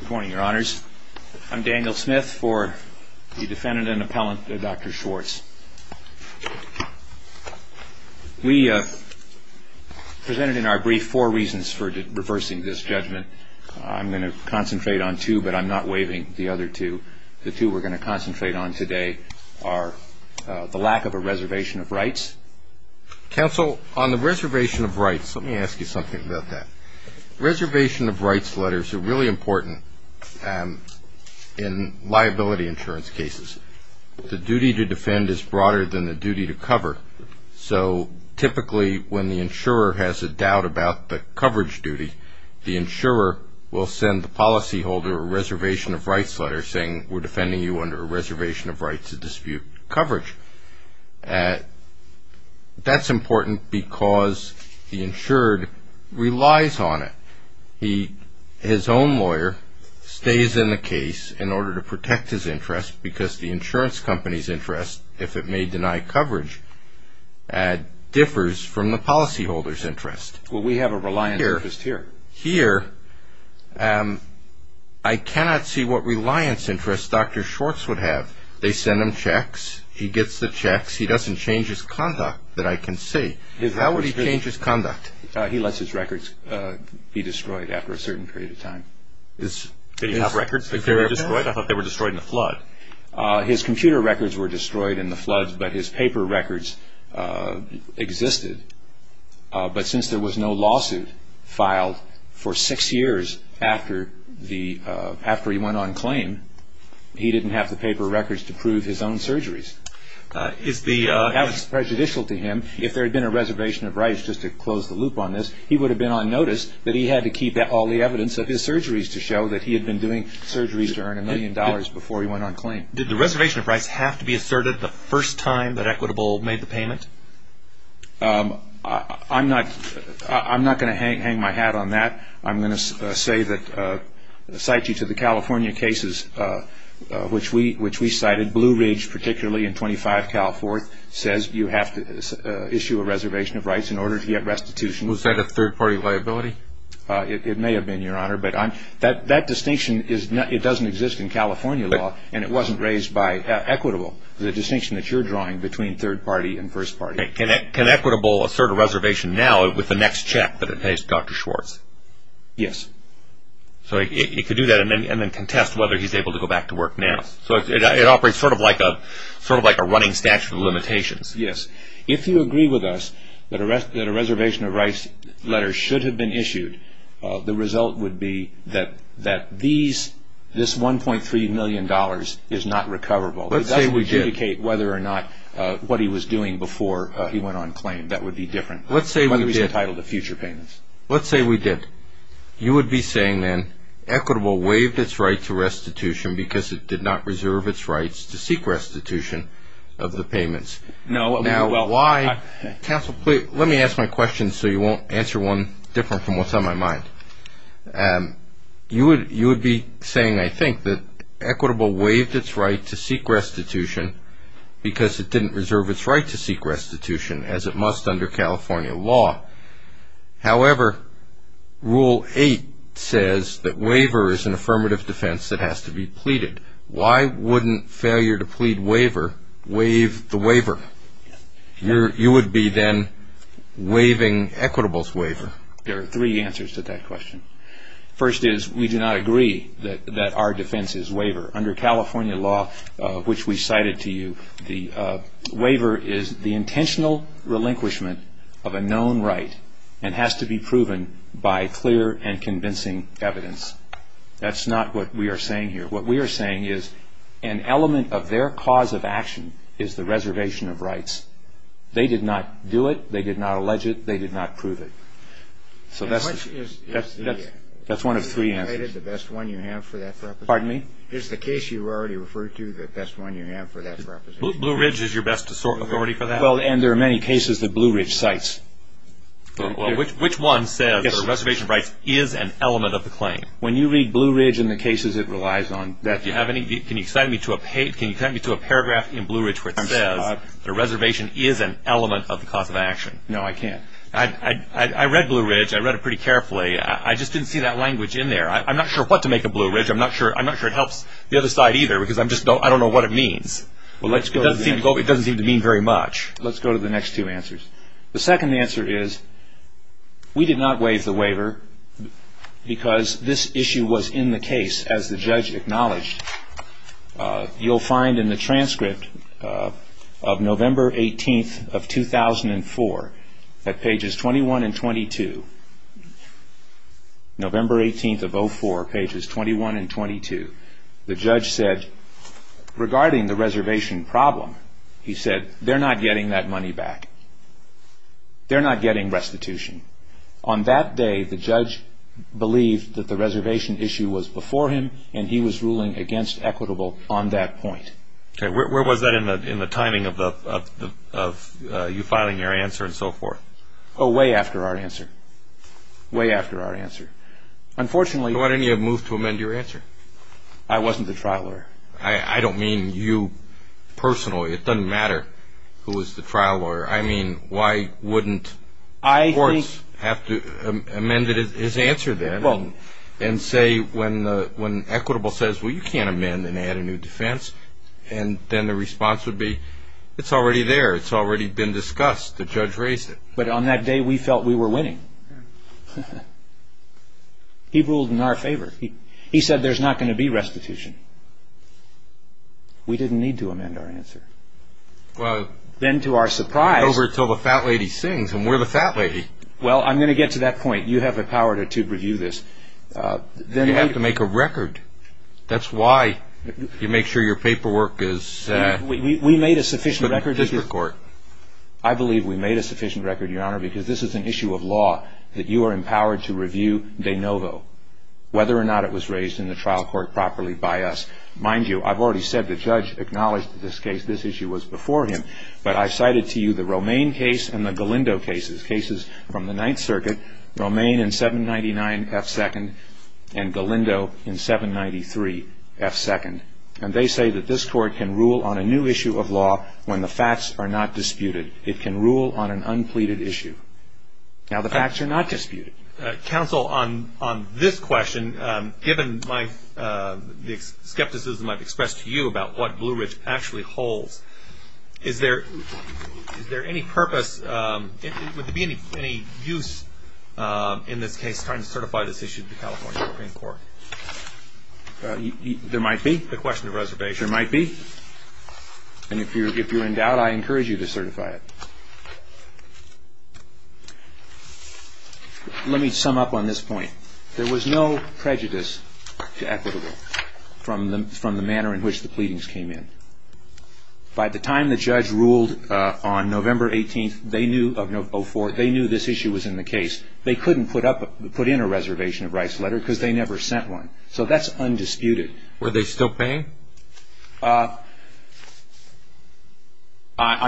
Good morning, your honors. I'm Daniel Smith for the defendant and appellant, Dr. Schwartz. We presented in our brief four reasons for reversing this judgment. I'm going to concentrate on two, but I'm not waiving the other two. The two we're going to concentrate on today are the lack of a reservation of rights. Counsel, on the reservation of rights, let me ask you something about that. Reservation of rights letters are really important in liability insurance cases. The duty to defend is broader than the duty to cover, so typically when the insurer has a doubt about the coverage duty, the insurer will send the policyholder a reservation of rights letter saying, we're defending you under a reservation of rights to dispute coverage. That's important because the insured relies on it. His own lawyer stays in the case in order to protect his interest because the insurance company's interest, if it may deny coverage, differs from the policyholder's interest. Well, we have a reliance interest here. Here, I cannot see what reliance interest Dr. Schwartz would have. They send him checks. He gets the checks. He doesn't change his conduct that I can see. How would he change his conduct? He lets his records be destroyed after a certain period of time. Did he have records that were destroyed? I thought they were destroyed in the flood. His computer records were destroyed in the flood, but his paper records existed. But since there was no lawsuit filed for six years after he went on claim, he didn't have the paper records to prove his own surgeries. That was prejudicial to him. If there had been a reservation of rights, just to close the loop on this, he would have been on notice that he had to keep all the evidence of his surgeries to show that he had been doing surgeries to earn a million dollars before he went on claim. Did the reservation of rights have to be asserted the first time that Equitable made the payment? I'm not going to hang my hat on that. I'm going to cite you to the California cases, which we cited. Blue Ridge, particularly in 25 Cal 4th, says you have to issue a reservation of rights in order to get restitution. Was that a third-party liability? It may have been, Your Honor. But that distinction doesn't exist in California law, and it wasn't raised by Equitable, the distinction that you're drawing between third-party and first-party. Can Equitable assert a reservation now with the next check that it pays Dr. Schwartz? Yes. It could do that and then contest whether he's able to go back to work now. It operates sort of like a running statute of limitations. Yes. If you agree with us that a reservation of rights letter should have been issued, the result would be that this $1.3 million is not recoverable. Let's say we did. It would indicate whether or not what he was doing before he went on claim. That would be different. Let's say we did. Whether he was entitled to future payments. Let's say we did. You would be saying then Equitable waived its right to restitution because it did not reserve its rights to seek restitution of the payments. No. Now, why? Counsel, let me ask my question so you won't answer one different from what's on my mind. You would be saying, I think, that Equitable waived its right to seek restitution because it didn't reserve its right to seek restitution as it must under California law. However, Rule 8 says that waiver is an affirmative defense that has to be pleaded. Why wouldn't failure to plead waiver waive the waiver? There are three answers to that question. First is we do not agree that our defense is waiver. Under California law, which we cited to you, the waiver is the intentional relinquishment of a known right and has to be proven by clear and convincing evidence. That's not what we are saying here. What we are saying is an element of their cause of action is the reservation of rights. They did not do it. They did not allege it. They did not prove it. So that's one of three answers. The best one you have for that purpose? Pardon me? Is the case you already referred to the best one you have for that purpose? Blue Ridge is your best authority for that? Well, and there are many cases that Blue Ridge cites. Well, which one says the reservation of rights is an element of the claim? When you read Blue Ridge and the cases it relies on, can you cite me to a paragraph in Blue Ridge where it says the reservation is an element of the cause of action? No, I can't. I read Blue Ridge. I read it pretty carefully. I just didn't see that language in there. I'm not sure what to make of Blue Ridge. I'm not sure it helps the other side either because I don't know what it means. It doesn't seem to mean very much. Let's go to the next two answers. The second answer is we did not waive the waiver because this issue was in the case as the judge acknowledged. You'll find in the transcript of November 18th of 2004 that pages 21 and 22, November 18th of 04, pages 21 and 22, the judge said regarding the reservation problem, he said they're not getting that money back. They're not getting restitution. On that day, the judge believed that the reservation issue was before him and he was ruling against equitable on that point. Okay. Where was that in the timing of you filing your answer and so forth? Oh, way after our answer. Way after our answer. Unfortunately— Why didn't you move to amend your answer? I wasn't the trial lawyer. I don't mean you personally. It doesn't matter who was the trial lawyer. I mean, why wouldn't courts have to amend his answer then and say when equitable says, well, you can't amend and add a new defense, and then the response would be, it's already there. It's already been discussed. The judge raised it. But on that day, we felt we were winning. He ruled in our favor. He said there's not going to be restitution. We didn't need to amend our answer. Then to our surprise— Wait until the fat lady sings, and we're the fat lady. Well, I'm going to get to that point. You have the power to review this. You have to make a record. That's why you make sure your paperwork is— We made a sufficient record. I believe we made a sufficient record, Your Honor, because this is an issue of law that you are empowered to review. They know, though, whether or not it was raised in the trial court properly by us. Mind you, I've already said the judge acknowledged this case. This issue was before him. But I cited to you the Romaine case and the Galindo cases, cases from the Ninth Circuit, Romaine in 799F2 and Galindo in 793F2. And they say that this Court can rule on a new issue of law when the facts are not disputed. It can rule on an unpleaded issue. Now, the facts are not disputed. Counsel, on this question, given the skepticism I've expressed to you about what Blue Ridge actually holds, is there any purpose, would there be any use in this case trying to certify this issue to the California Supreme Court? There might be. The question of reservation. There might be. And if you're in doubt, I encourage you to certify it. Let me sum up on this point. There was no prejudice to equitable from the manner in which the pleadings came in. By the time the judge ruled on November 18th of 04, they knew this issue was in the case. They couldn't put in a reservation of rights letter because they never sent one. So that's undisputed. Were they still paying? I'm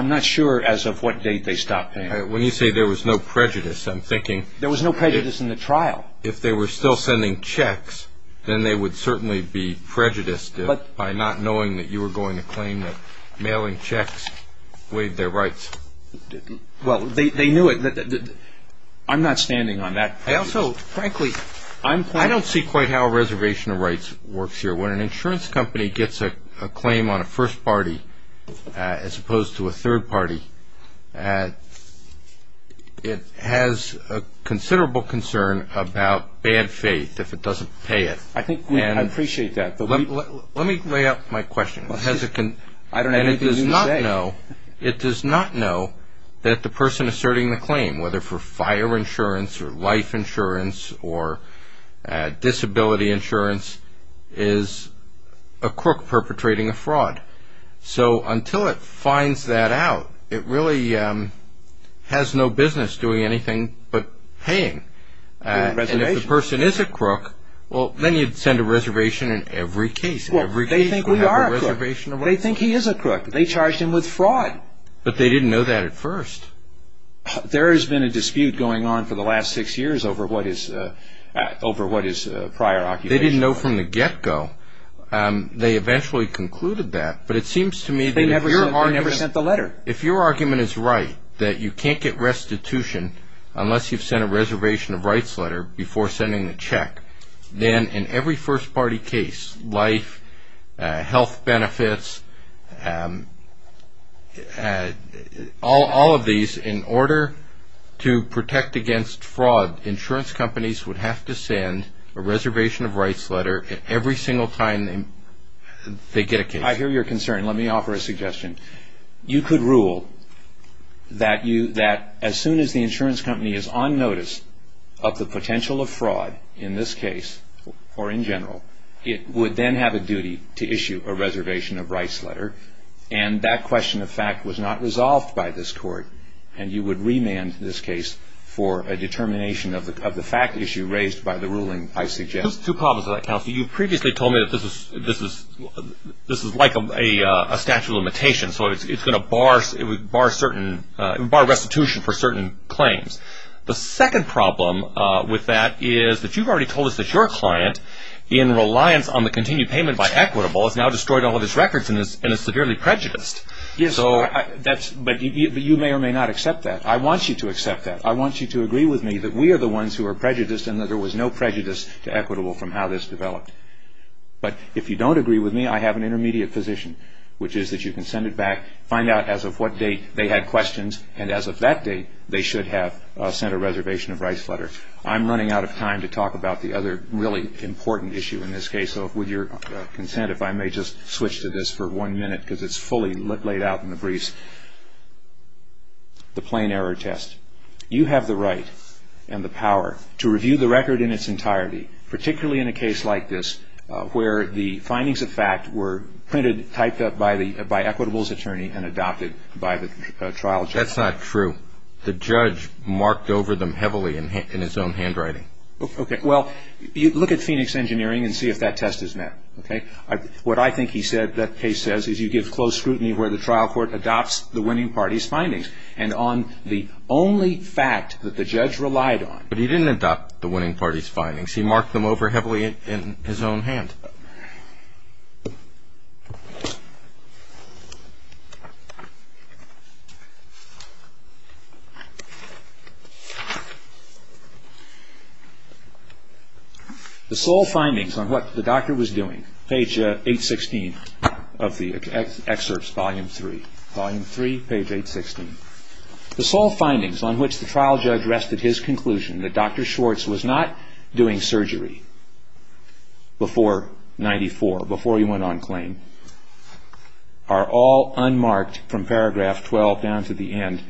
not sure as of what date they stopped paying. When you say there was no prejudice, I'm thinking if they were still sending checks, then they would certainly be prejudiced by not knowing that you were going to claim that mailing checks waived their rights. Well, they knew it. I'm not standing on that prejudice. I don't see quite how a reservation of rights works here. When an insurance company gets a claim on a first party as opposed to a third party, it has a considerable concern about bad faith if it doesn't pay it. I appreciate that. Let me lay out my question. I don't have anything to say. It does not know that the person asserting the claim, whether for fire insurance or life insurance or disability insurance, is a crook perpetrating a fraud. So until it finds that out, it really has no business doing anything but paying. If the person is a crook, then you'd send a reservation in every case. They think we are a crook. They think he is a crook. They charged him with fraud. But they didn't know that at first. There has been a dispute going on for the last six years over what his prior occupation was. They didn't know from the get-go. They eventually concluded that. But it seems to me that if your argument is right, that you can't get restitution unless you've sent a reservation of rights letter before sending the check, then in every first-party case, life, health benefits, all of these, in order to protect against fraud, insurance companies would have to send a reservation of rights letter every single time they get a case. I hear your concern. Let me offer a suggestion. You could rule that as soon as the insurance company is on notice of the potential of fraud in this case or in general, it would then have a duty to issue a reservation of rights letter. And that question of fact was not resolved by this court. And you would remand this case for a determination of the fact issue raised by the ruling I suggest. There's two problems with that, Counselor. You previously told me that this is like a statute of limitations. So it's going to bar restitution for certain claims. The second problem with that is that you've already told us that your client, in reliance on the continued payment by Equitable, has now destroyed all of his records and is severely prejudiced. Yes, sir. But you may or may not accept that. I want you to accept that. I want you to agree with me that we are the ones who are prejudiced and that there was no prejudice to Equitable from how this developed. But if you don't agree with me, I have an intermediate position, which is that you can send it back, find out as of what date they had questions, and as of that date, they should have sent a reservation of rights letter. I'm running out of time to talk about the other really important issue in this case. So with your consent, if I may just switch to this for one minute because it's fully laid out in the briefs, the plain error test. You have the right and the power to review the record in its entirety, particularly in a case like this where the findings of fact were printed, typed up by Equitable's attorney, and adopted by the trial judge. That's not true. The judge marked over them heavily in his own handwriting. Okay. Well, look at Phoenix Engineering and see if that test is met. Okay. What I think he said that case says is you give close scrutiny where the trial court adopts the winning party's findings. And on the only fact that the judge relied on. But he didn't adopt the winning party's findings. He marked them over heavily in his own hand. The sole findings on what the doctor was doing, page 816 of the excerpts, volume 3, volume 3, page 816. The sole findings on which the trial judge rested his conclusion that Dr. Schwartz was not doing surgery before 94, before he went on claim, are all unmarked from paragraph 12 down to the end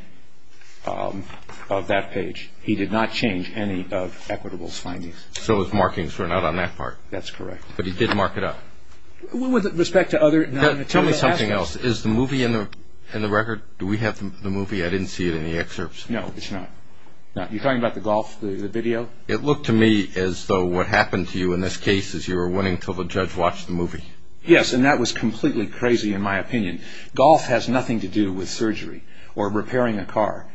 of that page. He did not change any of Equitable's findings. So his markings were not on that part. That's correct. But he did mark it up. With respect to other non-material evidence. Tell me something else. Is the movie in the record? Do we have the movie? I didn't see it in the excerpts. No, it's not. You're talking about the golf, the video? It looked to me as though what happened to you in this case is you were winning until the judge watched the movie. Yes, and that was completely crazy in my opinion. Golf has nothing to do with surgery or repairing a car.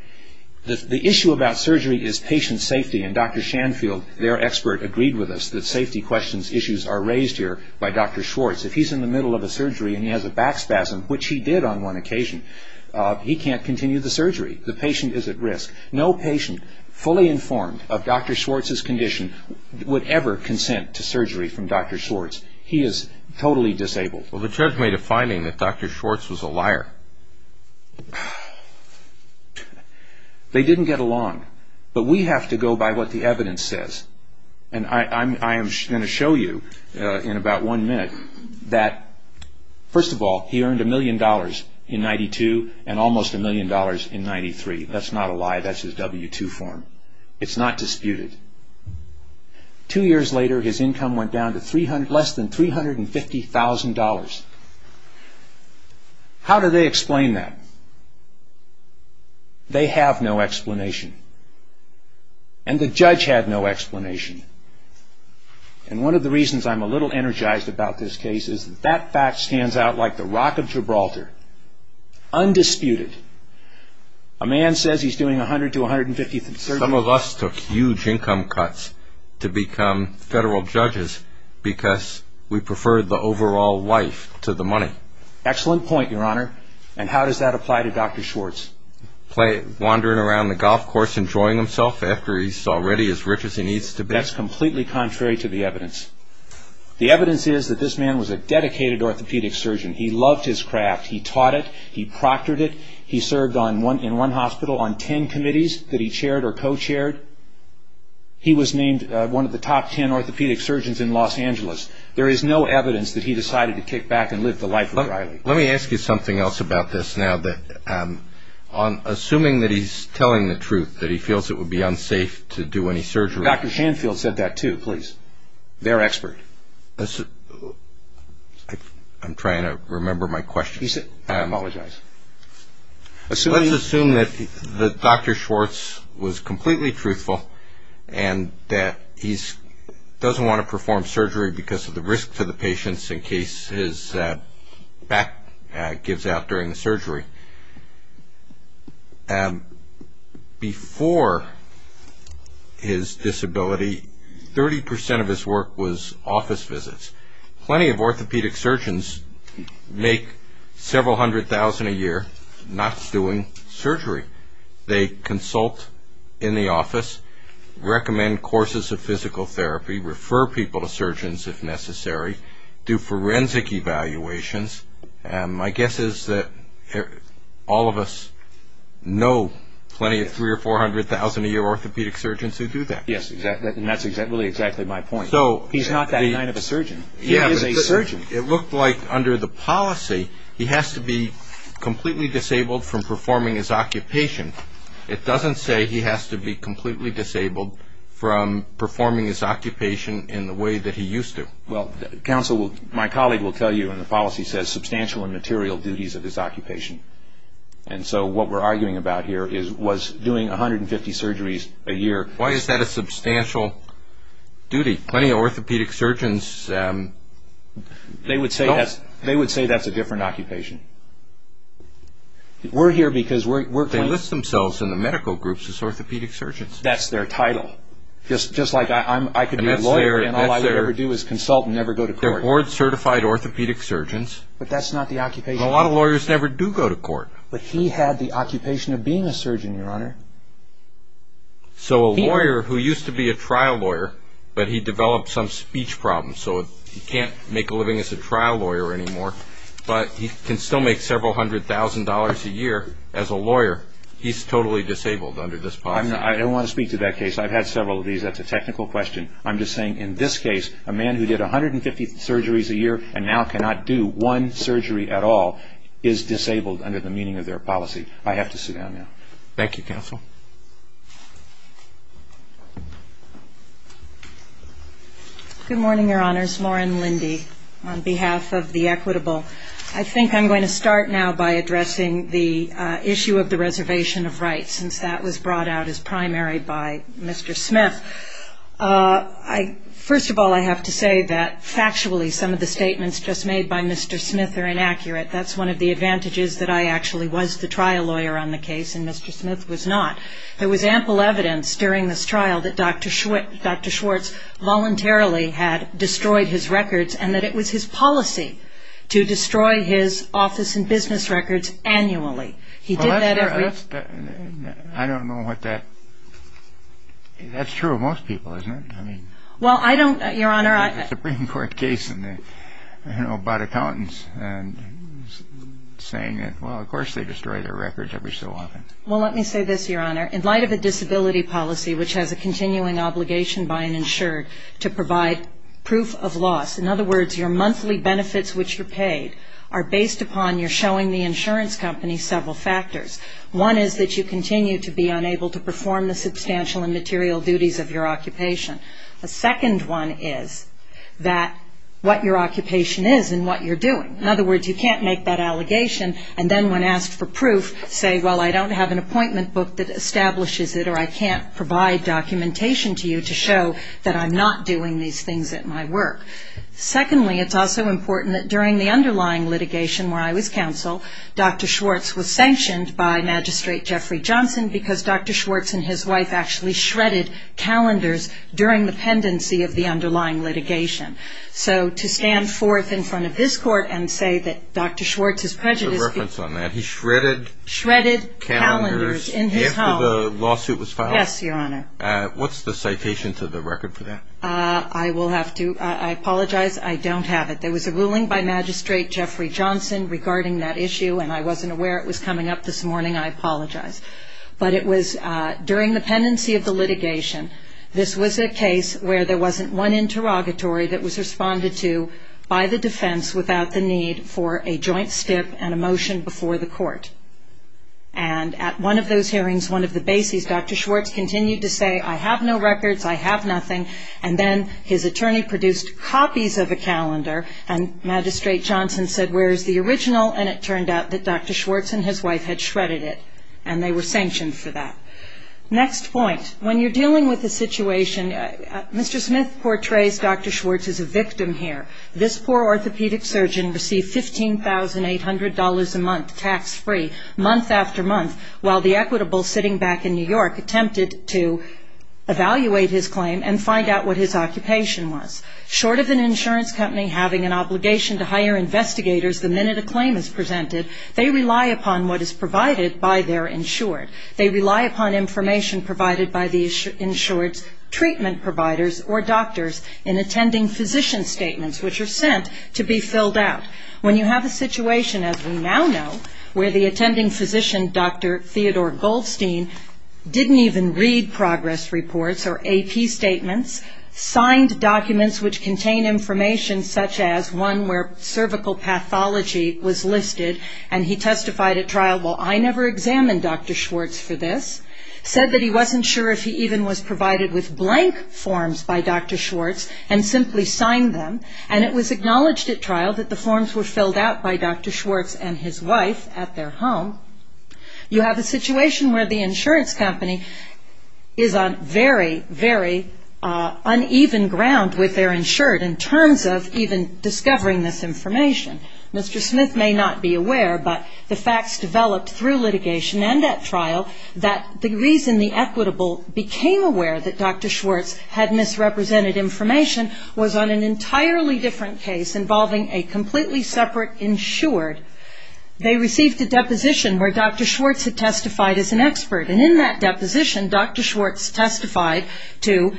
The issue about surgery is patient safety. And Dr. Shanfield, their expert, agreed with us that safety questions issues are raised here by Dr. Schwartz. If he's in the middle of a surgery and he has a back spasm, which he did on one occasion, he can't continue the surgery. The patient is at risk. No patient fully informed of Dr. Schwartz's condition would ever consent to surgery from Dr. Schwartz. He is totally disabled. Well, the judge made a finding that Dr. Schwartz was a liar. They didn't get along. But we have to go by what the evidence says. And I am going to show you in about one minute that, first of all, he earned a million dollars in 92 and almost a million dollars in 93. That's not a lie. That's his W-2 form. It's not disputed. Two years later, his income went down to less than $350,000. How do they explain that? They have no explanation. And the judge had no explanation. And one of the reasons I'm a little energized about this case is that that fact stands out like the rock of Gibraltar. Undisputed. A man says he's doing 100 to 150 surgeries. Some of us took huge income cuts to become federal judges because we preferred the overall life to the money. Excellent point, Your Honor. And how does that apply to Dr. Schwartz? Wandering around the golf course enjoying himself after he's already as rich as he needs to be? That's completely contrary to the evidence. The evidence is that this man was a dedicated orthopedic surgeon. He loved his craft. He taught it. He proctored it. He served in one hospital on 10 committees that he chaired or co-chaired. He was named one of the top 10 orthopedic surgeons in Los Angeles. There is no evidence that he decided to kick back and live the life of O'Reilly. Let me ask you something else about this now. Assuming that he's telling the truth, that he feels it would be unsafe to do any surgery. Dr. Shanfield said that too, please. They're expert. I'm trying to remember my question. I apologize. Let's assume that Dr. Schwartz was completely truthful and that he doesn't want to perform surgery because of the risk to the patients in case his back gives out during the surgery. Before his disability, 30% of his work was office visits. Plenty of orthopedic surgeons make several hundred thousand a year not doing surgery. They consult in the office, recommend courses of physical therapy, refer people to surgeons if necessary, do forensic evaluations. My guess is that all of us know plenty of three or four hundred thousand a year orthopedic surgeons who do that. Yes, and that's really exactly my point. He's not that kind of a surgeon. He is a surgeon. It looked like under the policy he has to be completely disabled from performing his occupation. It doesn't say he has to be completely disabled from performing his occupation in the way that he used to. Well, my colleague will tell you in the policy says substantial and material duties of his occupation. And so what we're arguing about here is was doing 150 surgeries a year. Why is that a substantial duty? Plenty of orthopedic surgeons don't. They would say that's a different occupation. We're here because we're plenty. They list themselves in the medical groups as orthopedic surgeons. That's their title. Just like I could be a lawyer and all I would ever do is consult and never go to court. They're board-certified orthopedic surgeons. But that's not the occupation. A lot of lawyers never do go to court. But he had the occupation of being a surgeon, Your Honor. So a lawyer who used to be a trial lawyer, but he developed some speech problems, so he can't make a living as a trial lawyer anymore, but he can still make several hundred thousand dollars a year as a lawyer. He's totally disabled under this policy. I don't want to speak to that case. I've had several of these. That's a technical question. I'm just saying in this case, a man who did 150 surgeries a year and now cannot do one surgery at all is disabled under the meaning of their policy. I have to sit down now. Thank you, counsel. Good morning, Your Honors. Lauren Lindy on behalf of the equitable. I think I'm going to start now by addressing the issue of the reservation of rights, since that was brought out as primary by Mr. Smith. First of all, I have to say that factually some of the statements just made by Mr. Smith are inaccurate. That's one of the advantages that I actually was the trial lawyer on the case, and Mr. Smith was not. There was ample evidence during this trial that Dr. Schwartz voluntarily had destroyed his records and that it was his policy to destroy his office and business records annually. I don't know what that is. That's true of most people, isn't it? Well, I don't, Your Honor. The Supreme Court case about accountants saying that, well, of course they destroy their records every so often. Well, let me say this, Your Honor. In light of a disability policy which has a continuing obligation by an insured to provide proof of loss, in other words, your monthly benefits which you're paid are based upon your showing the insurance company several factors. One is that you continue to be unable to perform the substantial and material duties of your occupation. A second one is that what your occupation is and what you're doing. In other words, you can't make that allegation and then when asked for proof say, well, I don't have an appointment book that establishes it or I can't provide documentation to you to show that I'm not doing these things at my work. Secondly, it's also important that during the underlying litigation where I was counsel, Dr. Schwartz was sanctioned by Magistrate Jeffrey Johnson because Dr. Schwartz and his wife actually shredded calendars during the pendency of the underlying litigation. So to stand forth in front of this court and say that Dr. Schwartz is prejudiced. There's a reference on that. He shredded calendars in his home. After the lawsuit was filed? Yes, Your Honor. What's the citation to the record for that? I will have to apologize. I don't have it. There was a ruling by Magistrate Jeffrey Johnson regarding that issue and I wasn't aware it was coming up this morning. I apologize. But it was during the pendency of the litigation. This was a case where there wasn't one interrogatory that was responded to by the defense without the need for a joint stip and a motion before the court. And at one of those hearings, one of the bases, Dr. Schwartz continued to say, I have no records, I have nothing, and then his attorney produced copies of a calendar and Magistrate Johnson said, Where's the original? And it turned out that Dr. Schwartz and his wife had shredded it and they were sanctioned for that. Next point. When you're dealing with a situation, Mr. Smith portrays Dr. Schwartz as a victim here. This poor orthopedic surgeon received $15,800 a month tax-free, month after month, while the equitable sitting back in New York attempted to evaluate his claim and find out what his occupation was. Short of an insurance company having an obligation to hire investigators, the minute a claim is presented, they rely upon what is provided by their insured. They rely upon information provided by the insured's treatment providers or doctors in attending physician statements which are sent to be filled out. When you have a situation, as we now know, where the attending physician, Dr. Theodore Goldstein, didn't even read progress reports or AP statements, signed documents which contain information such as one where cervical pathology was listed and he testified at trial, well, I never examined Dr. Schwartz for this, said that he wasn't sure if he even was provided with blank forms by Dr. Schwartz and simply signed them, and it was acknowledged at trial that the forms were filled out by Dr. Schwartz and his wife at their home, you have a situation where the insurance company is on very, very uneven ground with their insured in terms of even discovering this information. Mr. Smith may not be aware, but the facts developed through litigation and at trial that the reason the equitable became aware that Dr. Schwartz had misrepresented information was on an entirely different case involving a completely separate insured. They received a deposition where Dr. Schwartz had testified as an expert, and in that deposition Dr. Schwartz testified to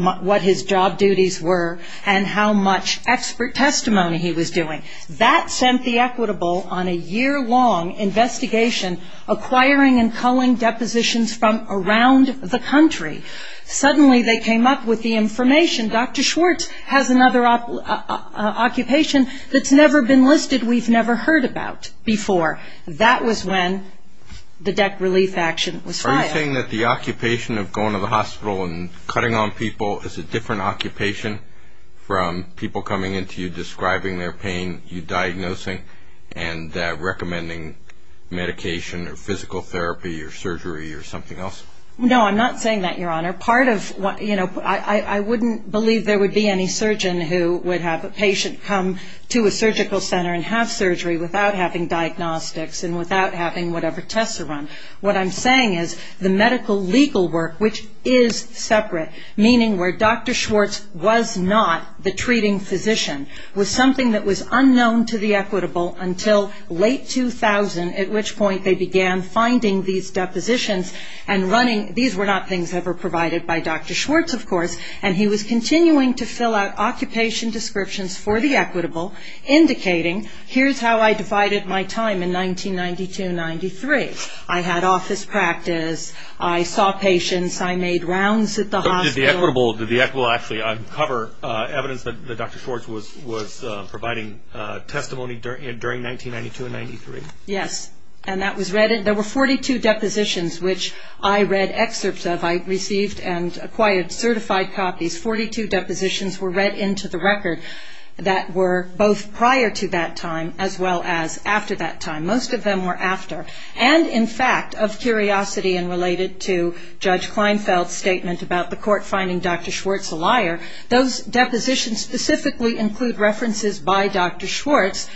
what his job duties were and how much expert testimony he was doing. That sent the equitable on a year-long investigation acquiring and culling depositions from around the country. Suddenly they came up with the information, Dr. Schwartz has another occupation that's never been listed, we've never heard about before. That was when the debt relief action was filed. Are you saying that the occupation of going to the hospital and cutting on people is a different occupation from people coming in to you describing their pain, you diagnosing and recommending medication or physical therapy or surgery or something else? No, I'm not saying that, Your Honor. I wouldn't believe there would be any surgeon who would have a patient come to a surgical center and have surgery without having diagnostics and without having whatever tests are run. What I'm saying is the medical legal work, which is separate, meaning where Dr. Schwartz was not the treating physician, was something that was unknown to the equitable until late 2000, at which point they began finding these depositions and running, these were not things ever provided by Dr. Schwartz, of course, and he was continuing to fill out occupation descriptions for the equitable, indicating here's how I divided my time in 1992-93. I had office practice. I saw patients. I made rounds at the hospital. Did the equitable actually uncover evidence that Dr. Schwartz was providing testimony during 1992-93? Yes, and that was read. There were 42 depositions, which I read excerpts of. I received and acquired certified copies. Forty-two depositions were read into the record that were both prior to that time as well as after that time. Most of them were after, and, in fact, of curiosity and related to Judge Kleinfeld's statement about the court finding Dr. Schwartz a liar, those depositions specifically include references by Dr. Schwartz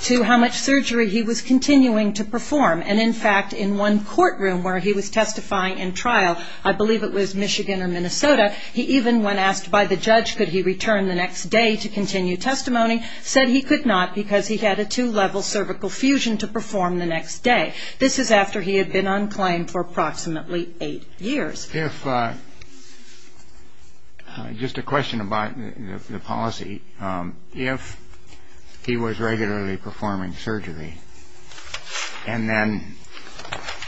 to how much surgery he was continuing to perform, and, in fact, in one courtroom where he was testifying in trial, I believe it was Michigan or Minnesota, he even, when asked by the judge could he return the next day to continue testimony, said he could not because he had a two-level cervical fusion to perform the next day. This is after he had been on claim for approximately eight years. If, just a question about the policy, if he was regularly performing surgery and then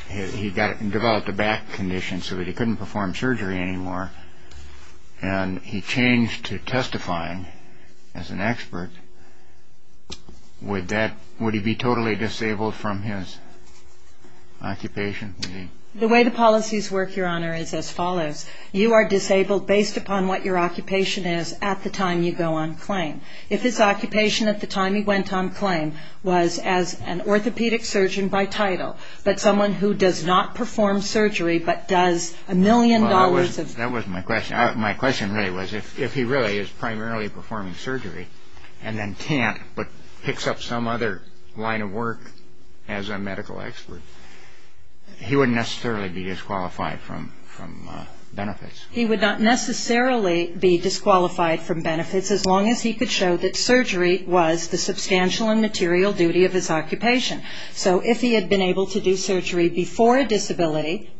he developed a back condition so that he couldn't perform surgery anymore and he changed to testifying as an expert, would he be totally disabled from his occupation? The way the policies work, Your Honor, is as follows. You are disabled based upon what your occupation is at the time you go on claim. If his occupation at the time he went on claim was as an orthopedic surgeon by title but someone who does not perform surgery but does a million dollars of Well, that wasn't my question. My question really was if he really is primarily performing surgery and then can't but picks up some other line of work as a medical expert, he wouldn't necessarily be disqualified from benefits. He would not necessarily be disqualified from benefits as long as he could show that surgery was the substantial and material duty of his occupation. So if he had been able to do surgery before a disability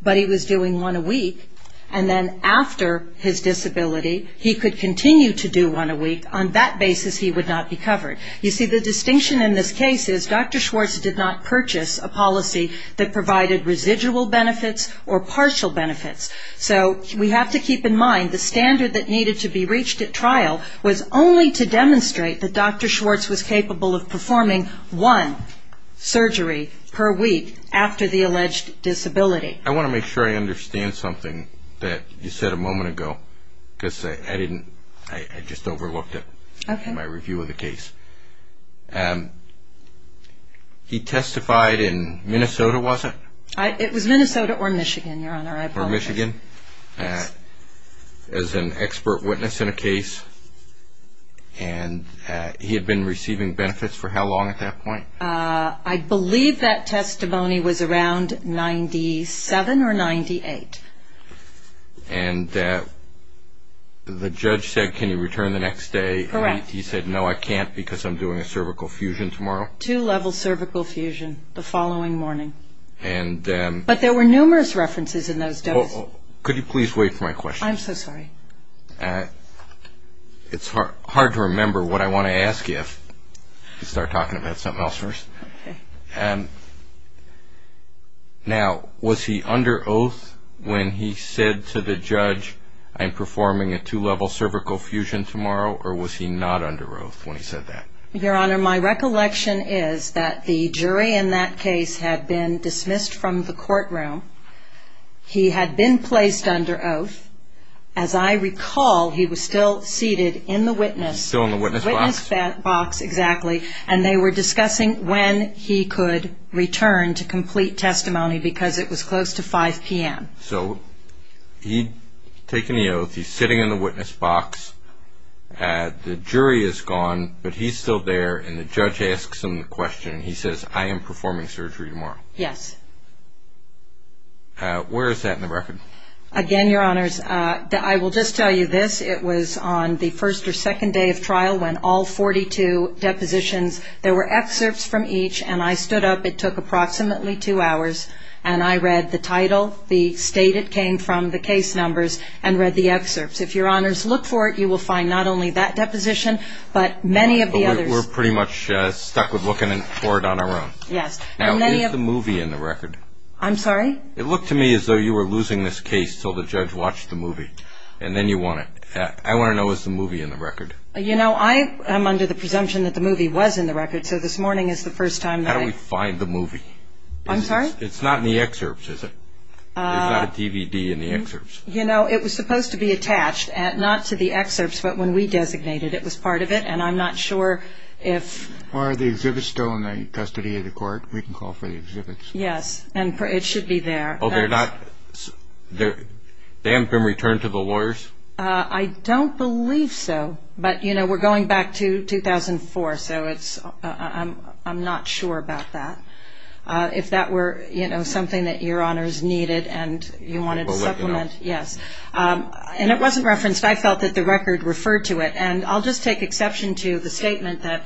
but he was doing one a week and then after his disability he could continue to do one a week, on that basis he would not be covered. You see, the distinction in this case is Dr. Schwartz did not purchase a policy that provided residual benefits or partial benefits. So we have to keep in mind the standard that needed to be reached at trial was only to demonstrate that Dr. Schwartz was capable of performing one surgery per week after the alleged disability. I want to make sure I understand something that you said a moment ago because I just overlooked it in my review of the case. He testified in Minnesota, was it? It was Minnesota or Michigan, Your Honor. Or Michigan as an expert witness in a case, and he had been receiving benefits for how long at that point? I believe that testimony was around 97 or 98. And the judge said, can you return the next day? Correct. He said, no, I can't because I'm doing a cervical fusion tomorrow? Two-level cervical fusion the following morning. But there were numerous references in those documents. Could you please wait for my question? I'm so sorry. It's hard to remember what I want to ask you if you start talking about something else first. Now, was he under oath when he said to the judge, I'm performing a two-level cervical fusion tomorrow, or was he not under oath when he said that? Your Honor, my recollection is that the jury in that case had been dismissed from the courtroom. He had been placed under oath. As I recall, he was still seated in the witness box, exactly, and they were discussing when he could return to complete testimony because it was close to 5 p.m. So he'd taken the oath. He's sitting in the witness box. The jury is gone, but he's still there, and the judge asks him the question. He says, I am performing surgery tomorrow. Yes. Where is that in the record? Again, Your Honors, I will just tell you this. It was on the first or second day of trial when all 42 depositions, there were excerpts from each, and I stood up. It took approximately two hours, and I read the title, the state it came from, the case numbers, and read the excerpts. If Your Honors look for it, you will find not only that deposition, but many of the others. We're pretty much stuck with looking for it on our own. Yes. Now, is the movie in the record? I'm sorry? It looked to me as though you were losing this case until the judge watched the movie, and then you won it. I want to know, is the movie in the record? You know, I am under the presumption that the movie was in the record, so this morning is the first time that I How do we find the movie? I'm sorry? It's not in the excerpts, is it? There's not a DVD in the excerpts. You know, it was supposed to be attached, not to the excerpts, but when we designated it, it was part of it, and I'm not sure if Are the exhibits still in the custody of the court? We can call for the exhibits. Yes, and it should be there. Oh, they're not? They haven't been returned to the lawyers? I don't believe so, but, you know, we're going back to 2004, so I'm not sure about that. If that were, you know, something that your honors needed and you wanted to supplement, yes. And it wasn't referenced. I felt that the record referred to it, and I'll just take exception to the statement that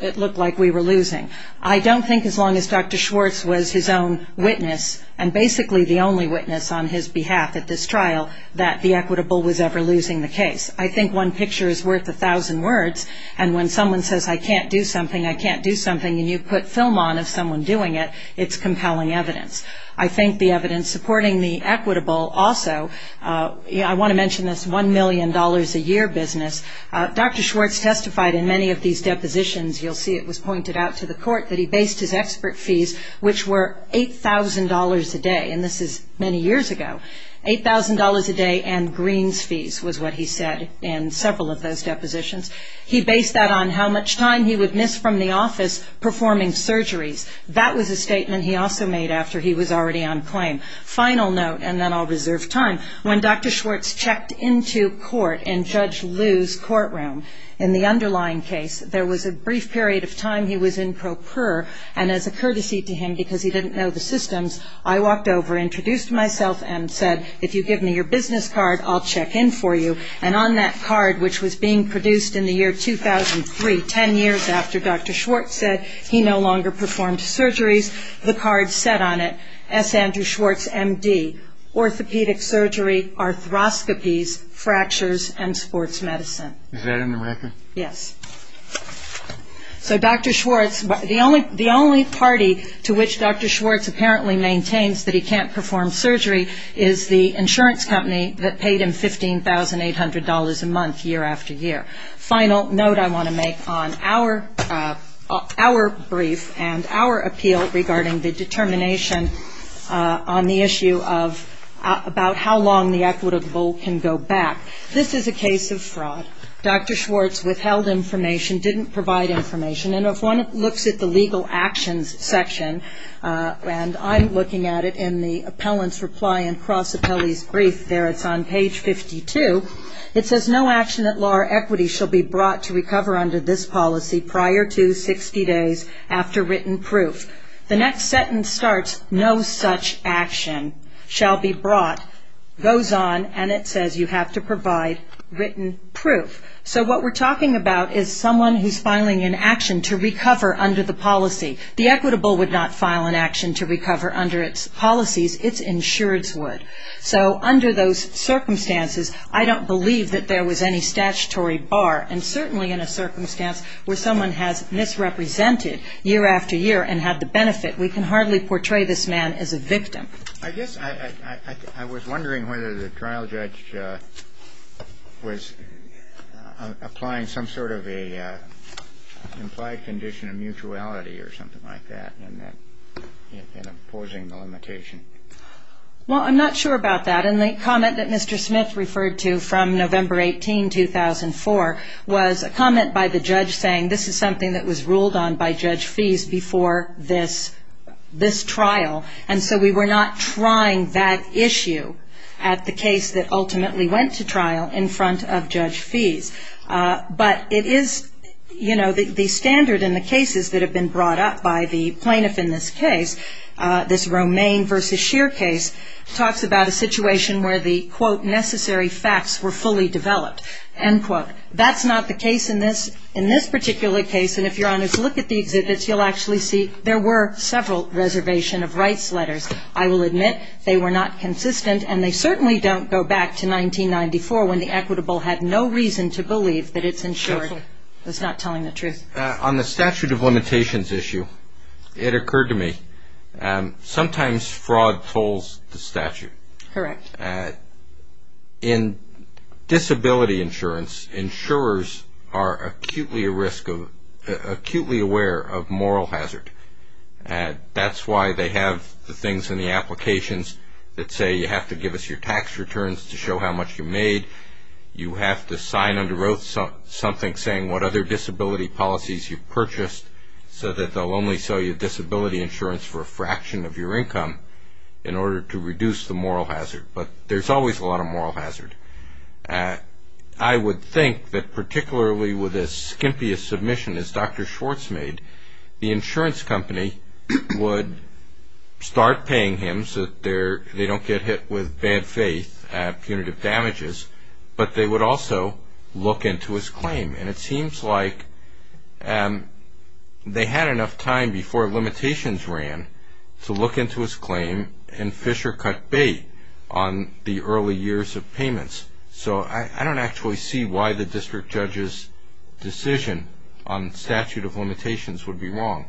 it looked like we were losing. I don't think as long as Dr. Schwartz was his own witness, and basically the only witness on his behalf at this trial, that the equitable was ever losing the case. I think one picture is worth a thousand words, and when someone says, I can't do something, I can't do something, and you put film on of someone doing it, it's compelling evidence. I think the evidence supporting the equitable also, I want to mention this $1 million a year business. Dr. Schwartz testified in many of these depositions. You'll see it was pointed out to the court that he based his expert fees, which were $8,000 a day, and this is many years ago. $8,000 a day and greens fees was what he said in several of those depositions. He based that on how much time he would miss from the office performing surgeries. That was a statement he also made after he was already on claim. Final note, and then I'll reserve time. When Dr. Schwartz checked into court in Judge Liu's courtroom in the underlying case, there was a brief period of time he was in pro pur, and as a courtesy to him because he didn't know the systems, I walked over, introduced myself, and said, if you give me your business card, I'll check in for you. And on that card, which was being produced in the year 2003, 10 years after Dr. Schwartz said he no longer performed surgeries, the card said on it, S. Andrew Schwartz, M.D., orthopedic surgery, arthroscopies, fractures, and sports medicine. Is that in the record? Yes. So Dr. Schwartz, the only party to which Dr. Schwartz apparently maintains that he can't perform surgery is the insurance company that paid him $15,800 a month year after year. Final note I want to make on our brief and our appeal regarding the determination on the issue of about how long the equitable can go back. This is a case of fraud. Dr. Schwartz withheld information, didn't provide information, and if one looks at the legal actions section, and I'm looking at it in the appellant's reply and cross-appellee's brief there, it's on page 52, it says no action at law or equity shall be brought to recover under this policy prior to 60 days after written proof. The next sentence starts, no such action shall be brought, goes on, and it says you have to provide written proof. So what we're talking about is someone who's filing an action to recover under the policy. The equitable would not file an action to recover under its policies. Its insureds would. So under those circumstances, I don't believe that there was any statutory bar, and certainly in a circumstance where someone has misrepresented year after year and had the benefit, we can hardly portray this man as a victim. I guess I was wondering whether the trial judge was applying some sort of an implied condition of mutuality or something like that in opposing the limitation. Well, I'm not sure about that. And the comment that Mr. Smith referred to from November 18, 2004, was a comment by the judge saying this is something that was ruled on by Judge Fees before this trial, and so we were not trying that issue at the case that ultimately went to trial in front of Judge Fees. But it is, you know, the standard in the cases that have been brought up by the plaintiff in this case, this Romaine v. Scheer case, talks about a situation where the, quote, necessary facts were fully developed, end quote. That's not the case in this particular case. And if Your Honors look at the exhibits, you'll actually see there were several reservation of rights letters. I will admit they were not consistent, and they certainly don't go back to 1994 when the equitable had no reason to believe that it's insured. It's not telling the truth. On the statute of limitations issue, it occurred to me, sometimes fraud tolls the statute. Correct. In disability insurance, insurers are acutely aware of moral hazard. That's why they have the things in the applications that say you have to give us your tax returns to show how much you made. You have to sign under oath something saying what other disability policies you've purchased so that they'll only sell you disability insurance for a fraction of your income in order to reduce the moral hazard. But there's always a lot of moral hazard. I would think that particularly with as skimpy a submission as Dr. Schwartz made, the insurance company would start paying him so that they don't get hit with bad faith, punitive damages, but they would also look into his claim. And it seems like they had enough time before limitations ran to look into his claim and fish or cut bait on the early years of payments. So I don't actually see why the district judge's decision on statute of limitations would be wrong.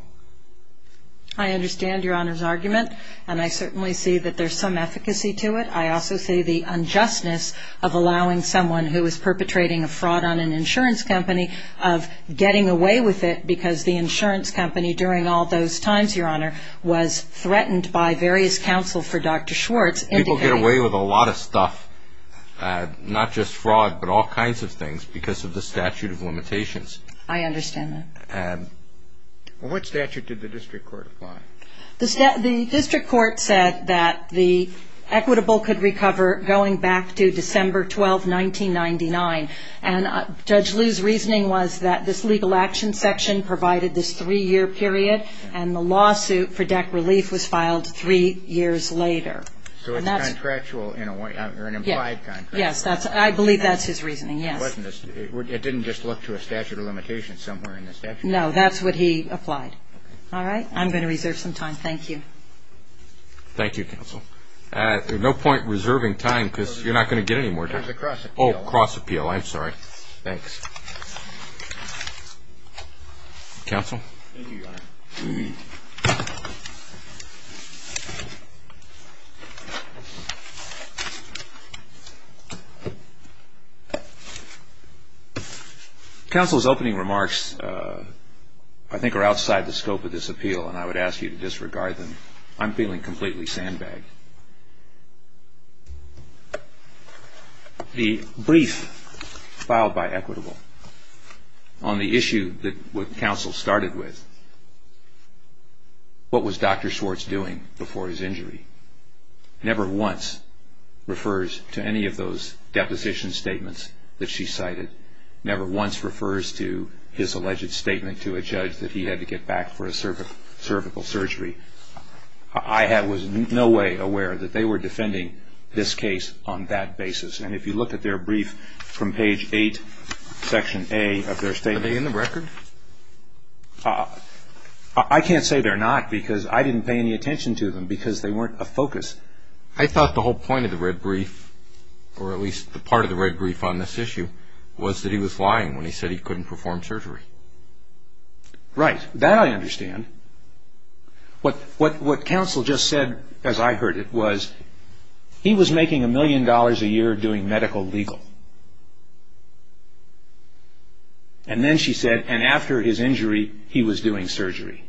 I understand Your Honor's argument, and I certainly see that there's some efficacy to it. I also see the unjustness of allowing someone who is perpetrating a fraud on an insurance company of getting away with it because the insurance company during all those times, Your Honor, was threatened by various counsel for Dr. Schwartz. People get away with a lot of stuff, not just fraud, but all kinds of things because of the statute of limitations. I understand that. What statute did the district court apply? The district court said that the equitable could recover going back to December 12, 1999, and Judge Liu's reasoning was that this legal action section provided this three-year period, and the lawsuit for deck relief was filed three years later. So it's contractual or an implied contractual? Yes, I believe that's his reasoning, yes. It didn't just look to a statute of limitations somewhere in the statute? No, that's what he applied. All right. I'm going to reserve some time. Thank you. Thank you, counsel. There's no point in reserving time because you're not going to get any more time. There's a cross appeal. Oh, cross appeal. I'm sorry. Thanks. Counsel? Thank you, Your Honor. Counsel's opening remarks I think are outside the scope of this appeal, and I would ask you to disregard them. I'm feeling completely sandbagged. The brief filed by equitable on the issue that counsel started with, what was Dr. Schwartz doing before his injury, never once refers to any of those deposition statements that she cited, never once refers to his alleged statement to a judge that he had to get back for a cervical surgery. I was in no way aware that they were defending this case on that basis, and if you look at their brief from page 8, section A of their statement. Are they in the record? I can't say they're not because I didn't pay any attention to them because they weren't a focus. I thought the whole point of the red brief, or at least the part of the red brief on this issue, was that he was lying when he said he couldn't perform surgery. Right. That I understand. What counsel just said, as I heard it, was, he was making a million dollars a year doing medical legal. And then she said, and after his injury, he was doing surgery.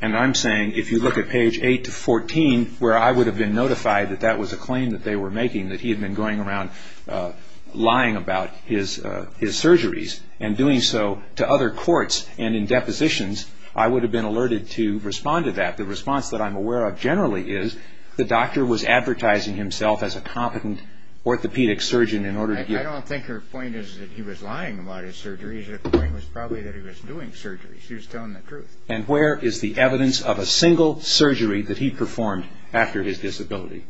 And I'm saying, if you look at page 8 to 14, where I would have been notified that that was a claim that they were making, that he had been going around lying about his surgeries, and doing so to other courts and in depositions, I would have been alerted to respond to that. The response that I'm aware of generally is, the doctor was advertising himself as a competent orthopedic surgeon in order to get... I don't think her point is that he was lying about his surgeries. Her point was probably that he was doing surgery. She was telling the truth. And where is the evidence of a single surgery that he performed after his disability?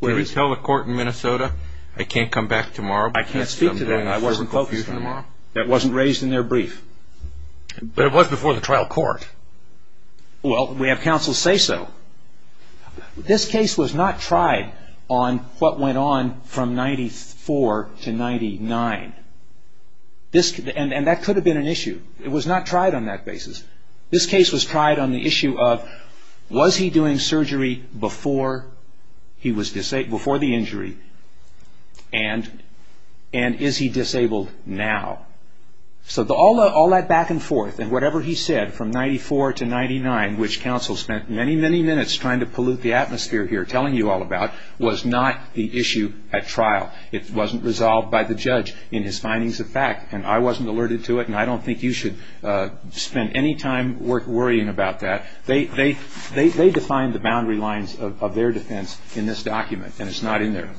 Can you tell the court in Minnesota, I can't come back tomorrow? I can't speak to them. I wasn't focused on them. That wasn't raised in their brief. But it was before the trial court. Well, we have counsel say so. This case was not tried on what went on from 94 to 99. And that could have been an issue. It was not tried on that basis. This case was tried on the issue of, was he doing surgery before the injury and is he disabled now? So all that back and forth and whatever he said from 94 to 99, which counsel spent many, many minutes trying to pollute the atmosphere here telling you all about, was not the issue at trial. It wasn't resolved by the judge in his findings of fact. And I wasn't alerted to it. And I don't think you should spend any time worrying about that. They defined the boundary lines of their defense in this document. And it's not in there.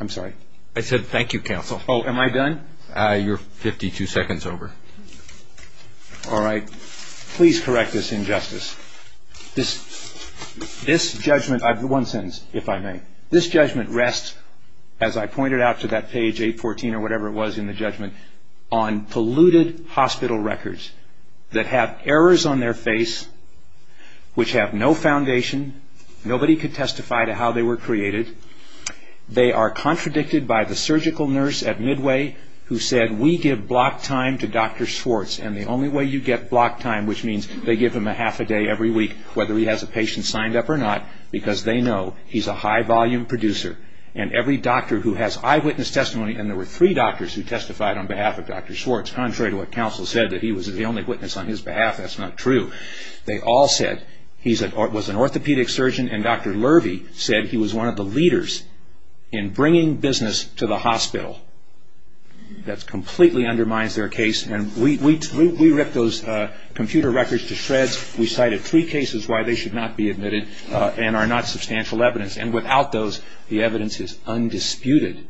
I'm sorry. I said thank you, counsel. Oh, am I done? You're 52 seconds over. All right. Please correct this injustice. This judgment, one sentence, if I may. This judgment rests, as I pointed out to that page 814 or whatever it was in the judgment, on polluted hospital records that have errors on their face which have no foundation. Nobody could testify to how they were created. They are contradicted by the surgical nurse at Midway who said, we give block time to Dr. Schwartz and the only way you get block time, which means they give him a half a day every week whether he has a patient signed up or not, because they know he's a high volume producer. And every doctor who has eyewitness testimony, and there were three doctors who testified on behalf of Dr. Schwartz, contrary to what counsel said that he was the only witness on his behalf. That's not true. They all said he was an orthopedic surgeon, and Dr. Lurvie said he was one of the leaders in bringing business to the hospital. That completely undermines their case. And we ripped those computer records to shreds. We cited three cases why they should not be admitted and are not substantial evidence. And without those, the evidence is undisputed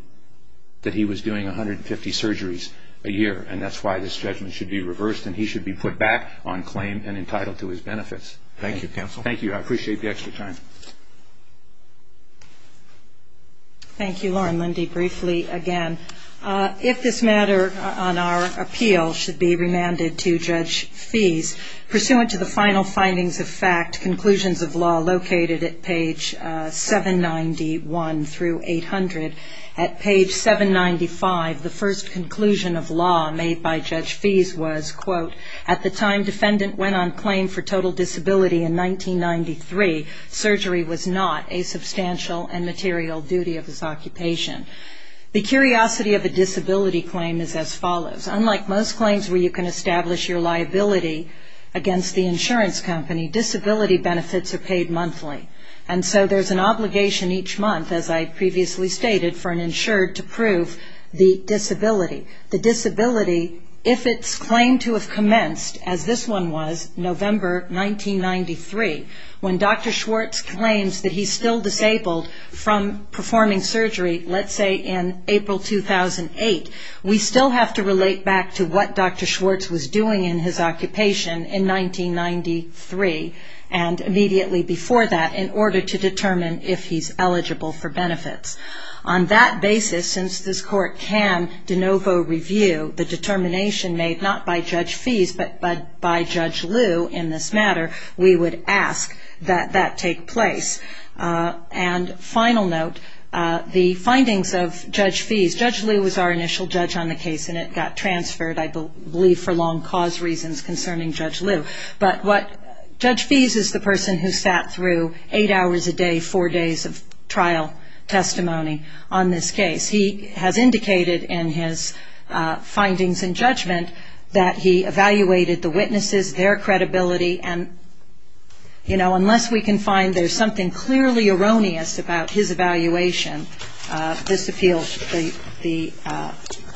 that he was doing 150 surgeries a year, and that's why this judgment should be reversed and he should be put back on claim and entitled to his benefits. Thank you, counsel. Thank you. I appreciate the extra time. Thank you, Loren. Lindy, briefly again. If this matter on our appeal should be remanded to Judge Fees, pursuant to the final findings of fact, conclusions of law located at page 791 through 800, at page 795 the first conclusion of law made by Judge Fees was, quote, at the time defendant went on claim for total disability in 1993, surgery was not a substantial and material duty of his occupation. The curiosity of a disability claim is as follows. Unlike most claims where you can establish your liability against the insurance company, disability benefits are paid monthly. And so there's an obligation each month, as I previously stated, for an insured to prove the disability. The disability, if it's claimed to have commenced, as this one was, November 1993, when Dr. Schwartz claims that he's still disabled from performing surgery, let's say in April 2008, we still have to relate back to what Dr. Schwartz was doing in his occupation in 1993, and immediately before that in order to determine if he's eligible for benefits. On that basis, since this court can de novo review the determination made not by Judge Fees but by Judge Lew in this matter, we would ask that that take place. And final note, the findings of Judge Fees. Judge Lew was our initial judge on the case, and it got transferred, I believe, for long cause reasons concerning Judge Lew. But Judge Fees is the person who sat through eight hours a day, four days of trial testimony on this case. He has indicated in his findings and judgment that he evaluated the witnesses, their credibility, and, you know, unless we can find there's something clearly erroneous about his evaluation, this appeal, the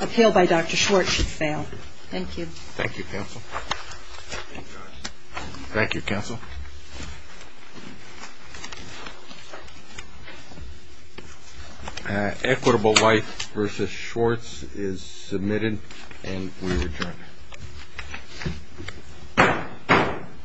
appeal by Dr. Schwartz should fail. Thank you. Thank you, counsel. Thank you, counsel. Thank you, counsel. Equitable Life v. Schwartz is submitted, and we return.